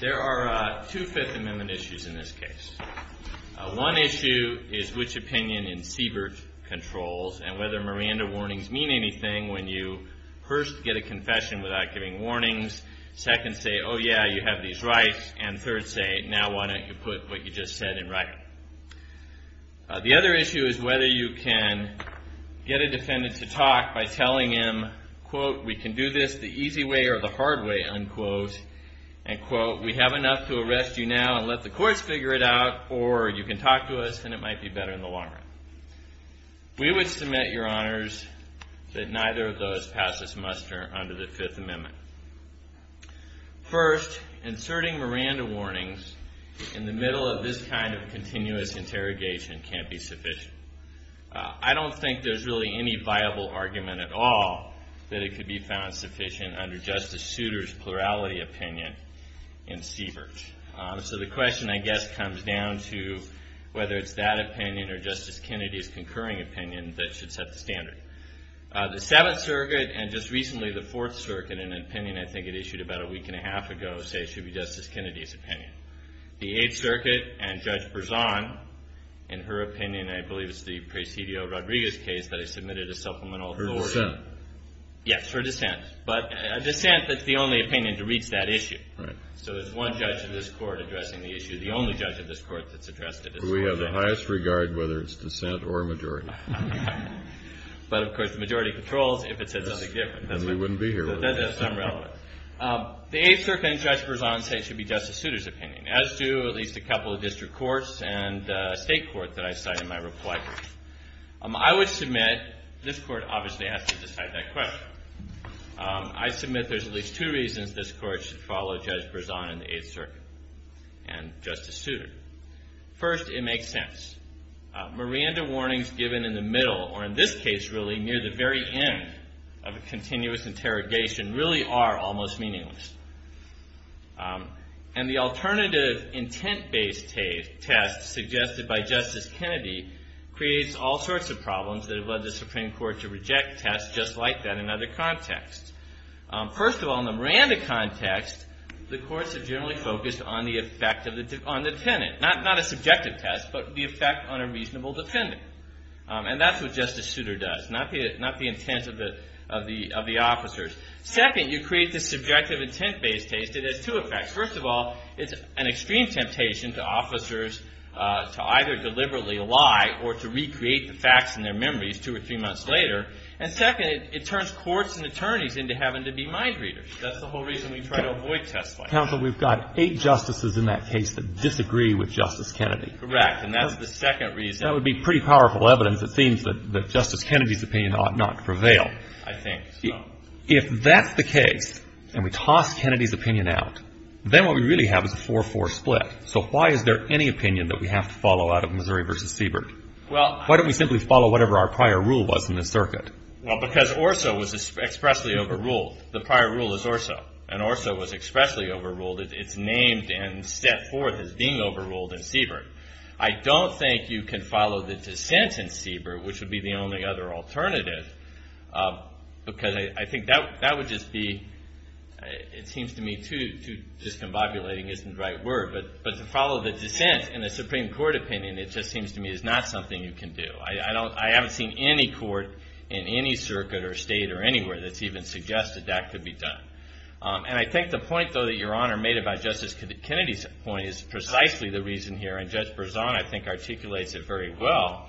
There are two Fifth Amendment issues in this case. One issue is which opinion in Siebert controls and whether Miranda warnings mean anything when you first get a confession without giving warnings. Second, say, oh, yeah, you have these rights. And third, say, now, why don't you put what you just said in writing? The other issue is whether you can get a defendant to talk by telling him, quote, we can do this the easy way or the hard way, unquote. And, quote, we have enough to arrest you now and let the courts figure it out. Or you can talk to us and it might be better in the long run. We would submit, Your Honors, that neither of those passes muster under the Fifth Amendment. First, inserting Miranda warnings in the middle of this kind of continuous interrogation can't be sufficient. I don't think there's really any viable argument at all that it could be found sufficient under Justice Souter's plurality opinion in Siebert. So the question, I guess, comes down to whether it's that opinion or Justice Kennedy's concurring opinion that should set the standard. The Seventh Circuit and, just recently, the Fourth Circuit, an opinion I think it issued about a week and a half ago, say, should be Justice Kennedy's opinion. The Eighth Circuit and Judge Berzon, in her opinion, I believe it's the Presidio-Rodriguez case that I submitted a complaint, that's the only opinion to reach that issue. So there's one judge in this court addressing the issue. The only judge in this court that's addressed it is Judge Kennedy. We have the highest regard whether it's dissent or majority. But, of course, the majority controls if it says nothing different. Then we wouldn't be here. That's unrelevant. The Eighth Circuit and Judge Berzon say it should be Justice Souter's opinion, as do at least a couple of district courts and a I would submit, this court obviously has to decide that question. I submit there's at least two reasons this court should follow Judge Berzon and the Eighth Circuit and Justice Souter. First, it makes sense. Miranda warnings given in the middle, or in this case, really, near the very end of a continuous interrogation, really are almost meaningless. And the alternative intent-based test suggested by Justice Kennedy creates all sorts of problems that have led the Supreme Court to reject tests just like that in other contexts. First of all, in the Miranda context, the courts have generally focused on the effect on the defendant, not a subjective test, but the effect on a reasonable defendant. And that's what Justice Souter does, not the intent of the officers. Second, you create this subjective intent-based test. It has two effects. First of all, it's an extreme temptation to officers to either deliberately lie or to recreate the facts in their memories two or three months later. And second, it turns courts and attorneys into having to be mind readers. That's the whole reason we try to avoid tests like that. Counsel, we've got eight justices in that case that disagree with Justice Kennedy. Correct. And that's the second reason. That would be pretty powerful evidence. It seems that Justice Kennedy's opinion ought not to prevail. I think so. If that's the case and we toss Kennedy's opinion out, then what we really have is a 4-4 split. So why is there any opinion that we have to follow out of Missouri v. Siebert? Why don't we simply follow whatever our prior rule was in this circuit? Well, because Orso was expressly overruled. The prior rule is Orso. And Orso was expressly overruled. It's named and set forth as being overruled in Siebert. I don't think you can follow the dissent in Siebert, which would be the only other alternative. Because I think that would just be, it seems to me too discombobulating isn't the right word. But to follow the dissent in the Supreme Court opinion, it just seems to me, is not something you can do. I haven't seen any court in any circuit or state or anywhere that's even suggested that could be done. And I think the point, though, that Your Honor made about Justice Kennedy's point is precisely the reason here. And Judge Berzon, I think, articulates it very well,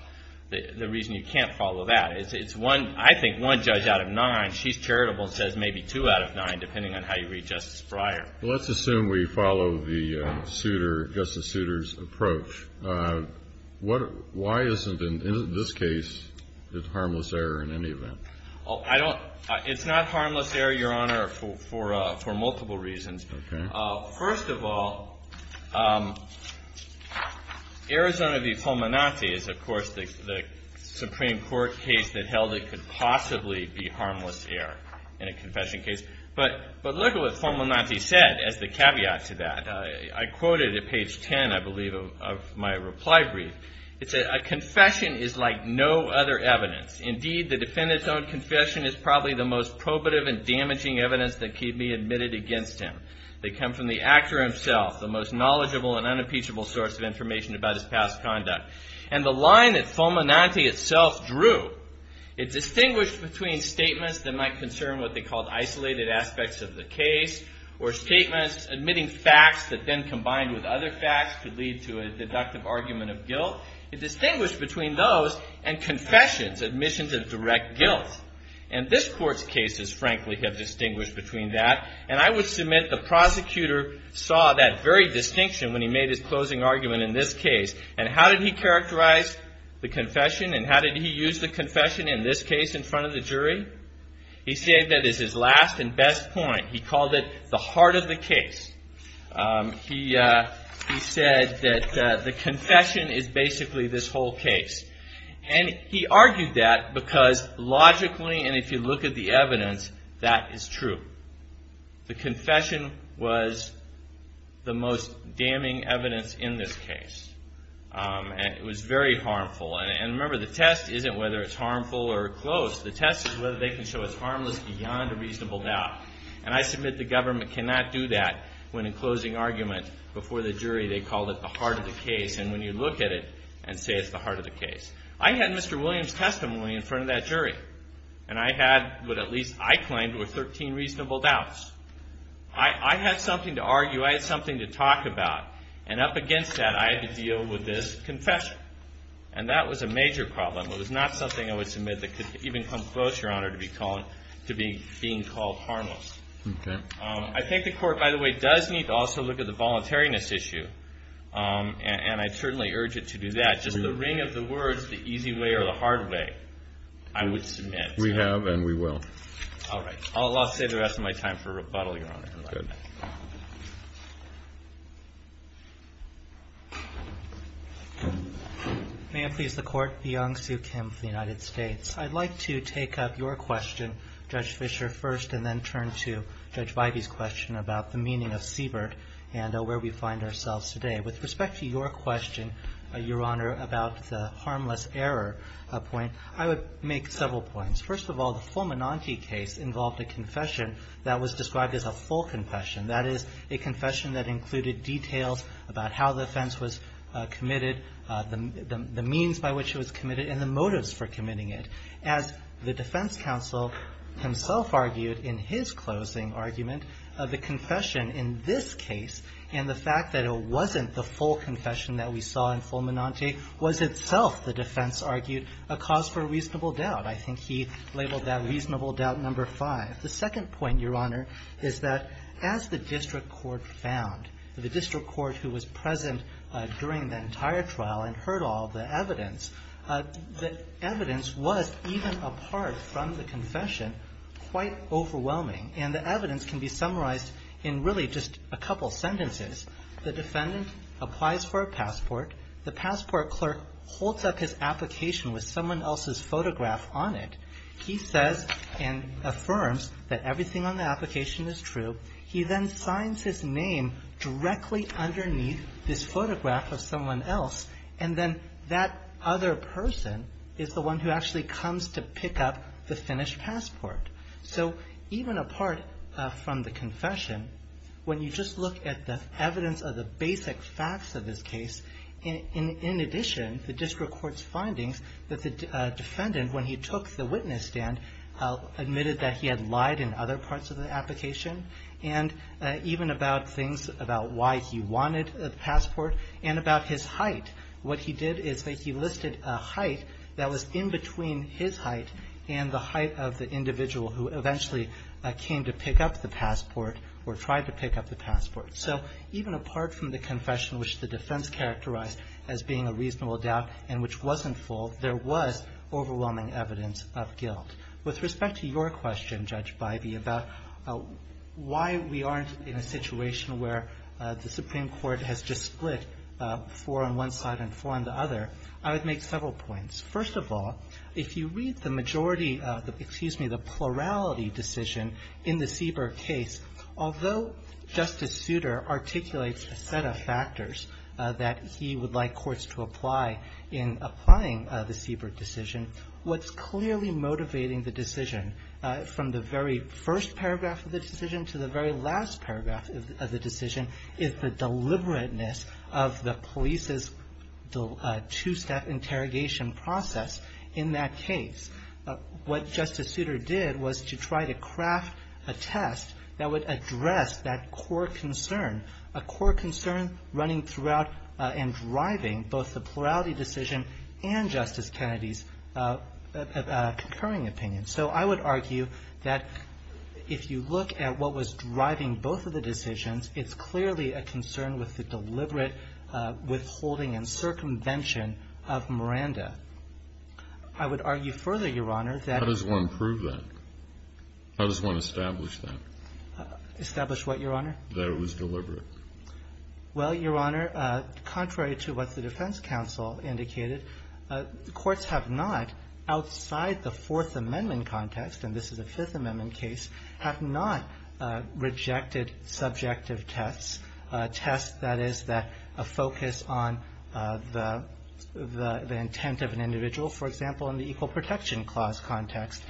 the reason you can't follow that. It's one, I think, one judge out of nine. She's charitable and says maybe two out of nine, depending on how you read Justice Breyer. Well, let's assume we follow the suitor, Justice Souter's approach. Why isn't, in this case, it harmless error in any event? It's not harmless error, Your Honor, for multiple reasons. Okay. First of all, Arizona v. Fulminante is, of course, the Supreme Court case that held it could possibly be harmless error in a confession case. But look at what Fulminante said as the caveat to that. I quoted at page 10, I believe, of my reply brief. It said, a confession is like no other evidence. Indeed, the defendant's own confession is probably the most probative and damaging evidence that can be admitted against him. They come from the actor himself, the most knowledgeable and unimpeachable source of information about his past conduct. And the line that Fulminante itself drew, it distinguished between statements that might concern what they called isolated aspects of the case, or statements admitting facts that then combined with other facts could lead to a deductive argument of guilt. It distinguished between those and confessions, admissions of direct guilt. And this Court's cases, frankly, have distinguished between that. And I would submit the prosecutor saw that very distinction when he made his closing argument in this case. And how did he characterize the confession, and how did he use the confession in this case in front of the jury? He said that as his last and best point, he called it the heart of the case. He said that the confession is basically this whole case. And he argued that because logically, and if you look at the evidence, that is true. The confession was the most damning evidence in this case. And it was very harmful. And remember, the test isn't whether it's harmful or close. The test is whether they can show it's harmless beyond a reasonable doubt. And I submit the government cannot do that when in closing argument before the jury they called it the heart of the case. And when you look at it and say it's the heart of the case. I had Mr. Williams' testimony in front of that jury. And I had what at least I claimed were 13 reasonable doubts. I had something to argue. I had something to talk about. And up against that, I had to deal with this confession. And that was a major problem. It was not something I would submit that could even come close, Your Honor, to being called harmless. I think the Court, by the way, does need to also look at the voluntariness issue. And I certainly urge it to do that. Just the ring of the words, the easy way or the hard way, I would submit. We have and we will. All right. I'll save the rest of my time for rebuttal, Your Honor. Good. May it please the Court. Byung Soo Kim for the United States. I'd like to take up your question, Judge Fischer, first. And then turn to Judge Vibey's question about the meaning of Siebert and where we find ourselves today. With respect to your question, Your Honor, about the harmless error point, I would make several points. First of all, the Fulminante case involved a confession that was described as a full confession. That is, a confession that included details about how the offense was committed, the means by which it was committed, and the motives for committing it. As the defense counsel himself argued in his closing argument, the confession in this case and the fact that it wasn't the full confession that we saw in Fulminante was itself, the defense argued, a cause for reasonable doubt. I think he labeled that reasonable doubt number five. The second point, Your Honor, is that as the district court found, the district court who was present during the entire trial and heard all the evidence, the evidence was, even apart from the confession, quite overwhelming. And the evidence can be summarized in really just a couple sentences. The defendant applies for a passport. The passport clerk holds up his application with someone else's photograph on it. He says and affirms that everything on the application is true. He then signs his name directly underneath this photograph of someone else. And then that other person is the one who actually comes to pick up the finished passport. So even apart from the confession, when you just look at the evidence of the basic facts of this case, in addition, the district court's findings that the defendant, when he took the witness stand, admitted that he had lied in other parts of the application, and even about things about why he wanted a passport and about his height. What he did is that he listed a height that was in between his height and the height of the individual who eventually came to pick up the passport or tried to pick up the passport. So even apart from the confession, which the defense characterized as being a reasonable doubt and which wasn't full, there was overwhelming evidence of guilt. With respect to your question, Judge Bybee, about why we aren't in a situation where the Supreme Court has just split four on one side and four on the other, I would make several points. First of all, if you read the majority of the – excuse me – the plurality decision in the Siebert case, although Justice Souter articulates a set of factors that he would like courts to apply in applying the Siebert decision, what's clearly motivating the decision from the very first paragraph of the decision to the very last paragraph of the decision is the deliberateness of the police's two-step interrogation process in that case. What Justice Souter did was to try to craft a test that would address that core concern, a core concern running throughout and driving both the plurality decision and Justice Kennedy's concurring opinion. So I would argue that if you look at what was driving both of the decisions, it's clearly a concern with the deliberate withholding and circumvention of Miranda. I would argue further, Your Honor, that – How does one prove that? How does one establish that? Establish what, Your Honor? That it was deliberate. Well, Your Honor, contrary to what the defense counsel indicated, courts have not, outside the Fourth Amendment context, and this is a Fifth Amendment case, have not rejected subjective tests, tests that is that a focus on the intent of an individual. For example, in the Equal Protection Clause context,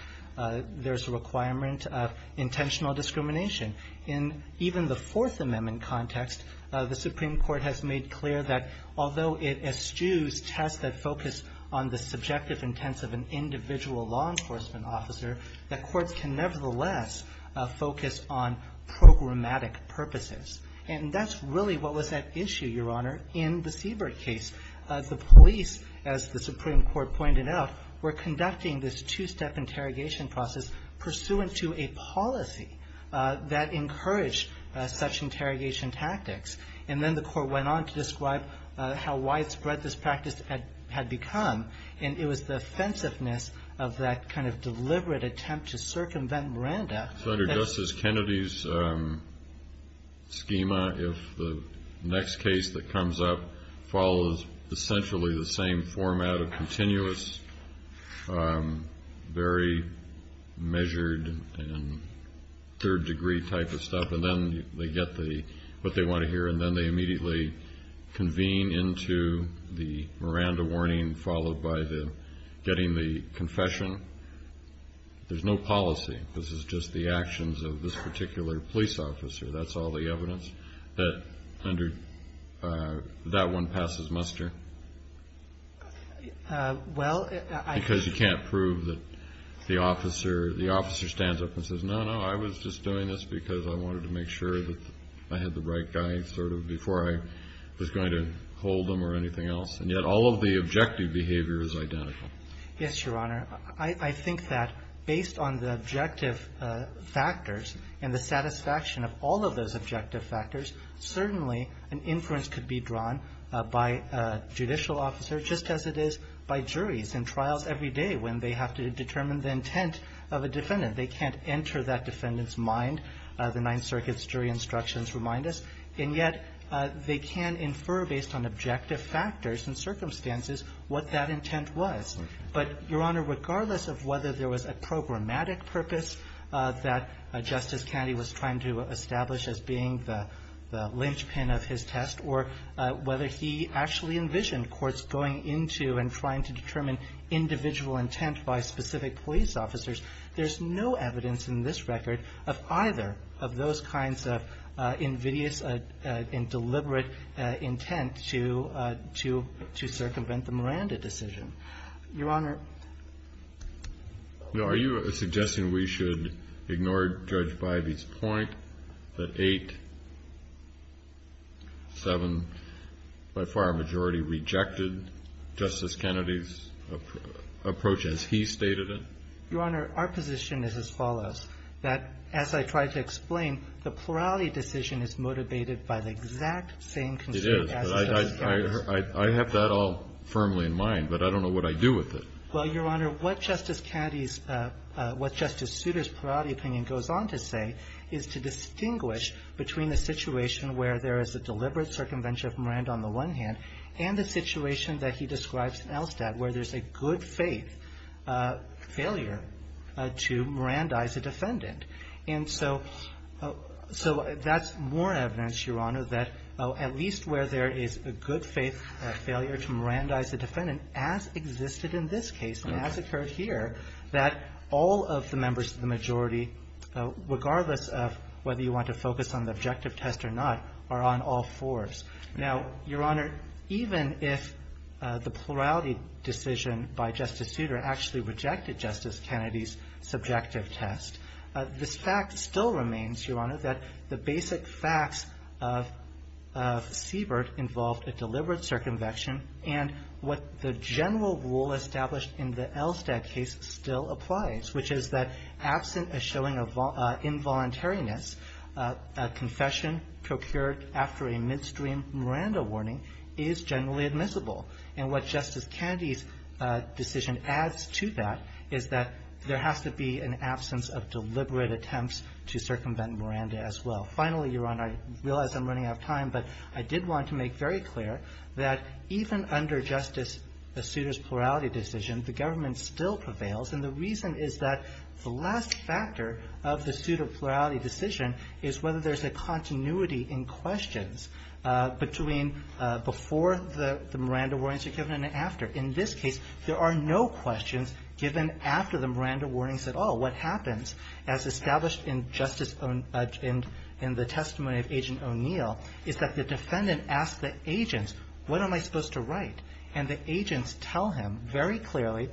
there's a requirement of intentional discrimination. In even the Fourth Amendment context, the Supreme Court has made clear that although it eschews tests that focus on the subjective intents of an individual law enforcement officer, the courts can nevertheless focus on programmatic purposes. And that's really what was at issue, Your Honor, in the Siebert case. The police, as the Supreme Court pointed out, were conducting this two-step interrogation process pursuant to a policy that encouraged such interrogation tactics. And then the court went on to describe how widespread this practice had become, and it was the offensiveness of that kind of deliberate attempt to circumvent Miranda that – So under Justice Kennedy's schema, if the next case that comes up follows essentially the same format of continuous, very measured and third-degree type of stuff, and then they get what they want to hear, and then they immediately convene into the Miranda warning, followed by the getting the confession, there's no policy. This is just the actions of this particular police officer. That's all the evidence that under – that one passes muster? Well, I – Because you can't prove that the officer – the officer stands up and says, no, no, I was just doing this because I wanted to make sure that I had the right guy sort of before I was going to hold him or anything else. And yet all of the objective behavior is identical. Yes, Your Honor. I think that based on the objective factors and the satisfaction of all of those objective factors, certainly an inference could be drawn by a judicial officer just as it is by juries in trials every day when they have to determine the intent of a defendant. They can't enter that defendant's mind, the Ninth Circuit's jury instructions remind us, and yet they can infer based on objective factors and circumstances what that intent was. But, Your Honor, regardless of whether there was a programmatic purpose that Justice Kennedy was trying to establish as being the linchpin of his test or whether he actually envisioned courts going into and trying to determine individual intent by specific police officers, there's no evidence in this record of either of those kinds of invidious and deliberate intent to circumvent the Miranda decision. Your Honor. Now, are you suggesting we should ignore Judge Bivey's point that eight, seven, by far a majority, rejected Justice Kennedy's approach as he stated it? Your Honor, our position is as follows, that as I tried to explain, the plurality decision is motivated by the exact same constraint as Justice Kennedy's. I have that all firmly in mind, but I don't know what I do with it. Well, Your Honor, what Justice Kennedy's, what Justice Souter's priority opinion goes on to say is to distinguish between the situation where there is a deliberate circumvention of Miranda on the one hand and the situation that he describes in Elstad where there's a good faith failure to Mirandize a defendant. And so that's more evidence, Your Honor, that at least where there is a good faith failure to Mirandize a defendant as existed in this case and as occurred here, that all of the members of the majority, regardless of whether you want to focus on the objective test or not, are on all fours. Now, Your Honor, even if the plurality decision by Justice Souter actually rejected Justice Kennedy's subjective test, this fact still remains, Your Honor, that the basic facts of Siebert involved a deliberate circumvention and what the general rule established in the Elstad case still applies, which is that absent a showing of involuntariness, a confession procured after a midstream Miranda warning is generally admissible. And what Justice Kennedy's decision adds to that is that there has to be an absence of deliberate attempts to circumvent Miranda as well. Finally, Your Honor, I realize I'm running out of time, but I did want to make very clear that even under Justice Souter's plurality decision, the government still prevails, and the reason is that the last factor of the Souter plurality decision is whether there's a continuity in questions between before the Miranda warnings are given and after. In this case, there are no questions given after the Miranda warnings at all. What happens, as established in the testimony of Agent O'Neill, is that the defendant asks the agents, what am I supposed to write? And the agents tell him very clearly,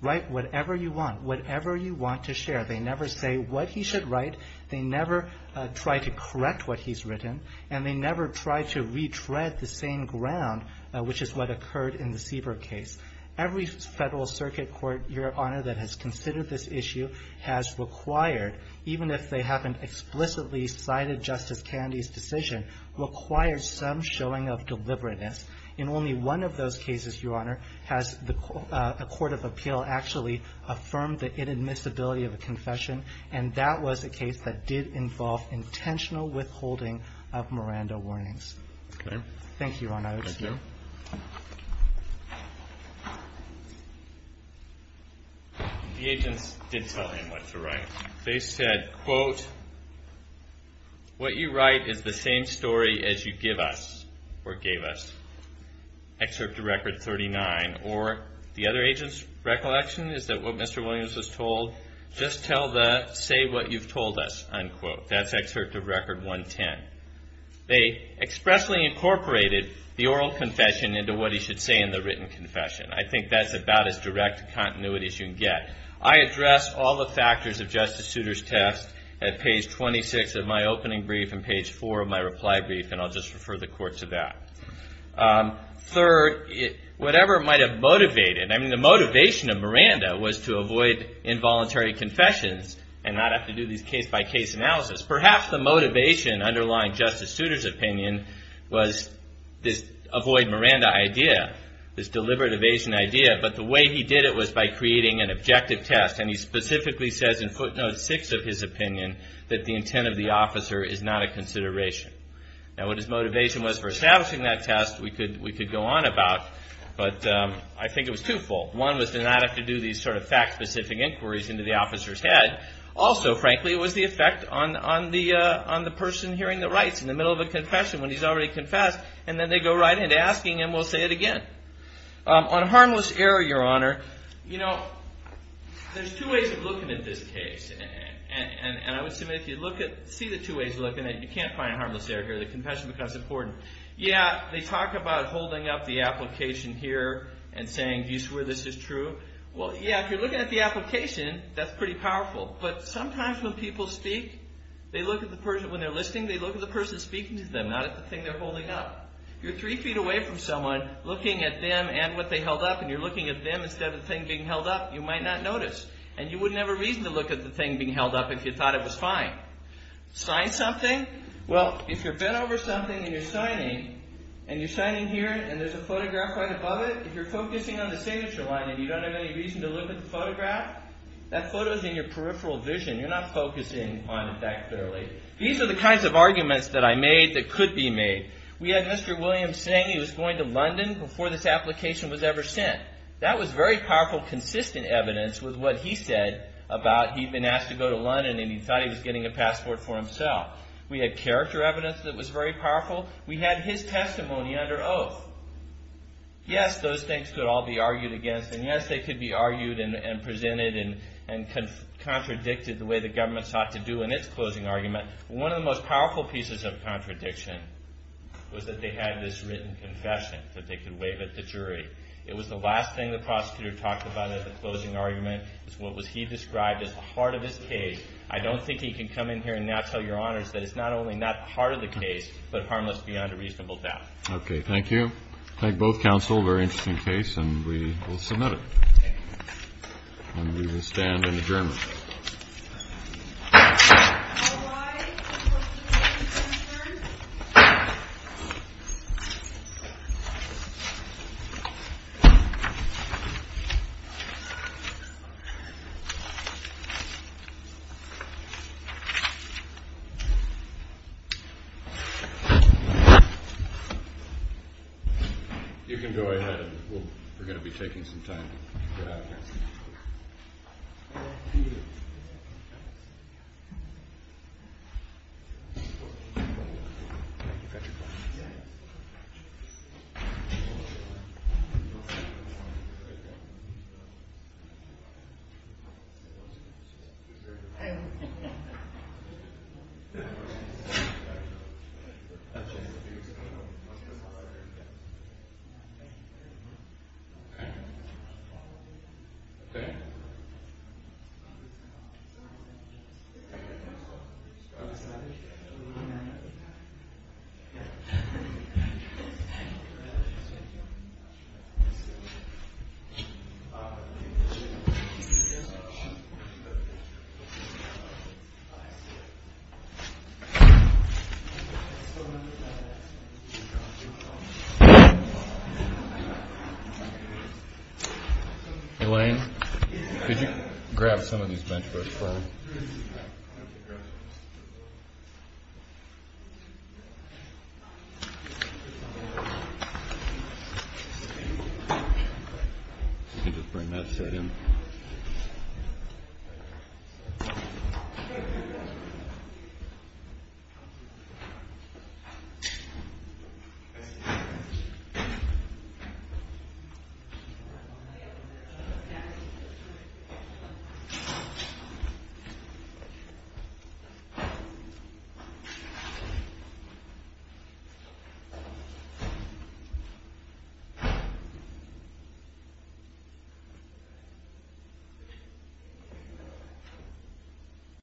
write whatever you want, whatever you want to share. They never say what he should write. They never try to correct what he's written. And they never try to retread the same ground, which is what occurred in the Sieber case. Every Federal Circuit court, Your Honor, that has considered this issue has required even if they haven't explicitly cited Justice Kennedy's decision, requires some showing of deliberateness. In only one of those cases, Your Honor, has a court of appeal actually affirmed the inadmissibility of a confession. And that was a case that did involve intentional withholding of Miranda warnings. Okay. Thank you, Your Honor. Thank you. The agents did tell him what to write. They said, quote, what you write is the same story as you give us, or gave us. Excerpt to Record 39. Or the other agent's recollection is that what Mr. Williams was told, just tell the truth. Don't say what you've told us, unquote. That's Excerpt to Record 110. They expressly incorporated the oral confession into what he should say in the written confession. I think that's about as direct continuity as you can get. I address all the factors of Justice Souter's test at page 26 of my opening brief and page 4 of my reply brief, and I'll just refer the court to that. confessions and not have to do these case-by-case analysis. Perhaps the motivation underlying Justice Souter's opinion was this avoid Miranda idea, this deliberate evasion idea. But the way he did it was by creating an objective test. And he specifically says in footnote 6 of his opinion that the intent of the officer is not a consideration. Now, what his motivation was for establishing that test, we could go on about. But I think it was twofold. One was to not have to do these sort of fact-specific inquiries into the officer's head. Also, frankly, it was the effect on the person hearing the rights in the middle of a confession when he's already confessed. And then they go right into asking him, we'll say it again. On harmless error, Your Honor, you know, there's two ways of looking at this case. And I would submit if you look at, see the two ways of looking at it, you can't find harmless error here. The confession becomes important. Yeah, they talk about holding up the application here and saying, do you swear this is true? Well, yeah, if you're looking at the application, that's pretty powerful. But sometimes when people speak, they look at the person, when they're listening, they look at the person speaking to them, not at the thing they're holding up. You're three feet away from someone looking at them and what they held up, and you're looking at them instead of the thing being held up. You might not notice. And you wouldn't have a reason to look at the thing being held up if you thought it was fine. Sign something. Well, if you're bent over something and you're signing and you're signing here and there's a photograph right above it, if you're focusing on the signature line and you don't have any reason to look at the photograph, that photo is in your peripheral vision. You're not focusing on it that clearly. These are the kinds of arguments that I made that could be made. We had Mr. Williams saying he was going to London before this application was ever sent. That was very powerful, consistent evidence with what he said about he'd been asked to go to London and he thought he was getting a passport for himself. We had character evidence that was very powerful. We had his testimony under oath. Yes, those things could all be argued against, and yes, they could be argued and presented and contradicted the way the government sought to do in its closing argument. One of the most powerful pieces of contradiction was that they had this written confession that they could waive at the jury. It was the last thing the prosecutor talked about at the closing argument. It's what he described as the heart of his case. I don't think he can come in here and now tell Your Honors that it's not only not the heart of the case but harmless beyond a reasonable doubt. Okay, thank you. Thank both counsel. Very interesting case, and we will submit it. And we will stand in adjournment. You can go ahead. We're going to be taking some time to get out of here. Thank you. Thank you. Thank you. Thank you. Thank you. Thank you. Thank you. Thank you. Thank you. Thank you. Could you grab some of these bench books for me? You can just bring that straight in. Thank you. Thank you.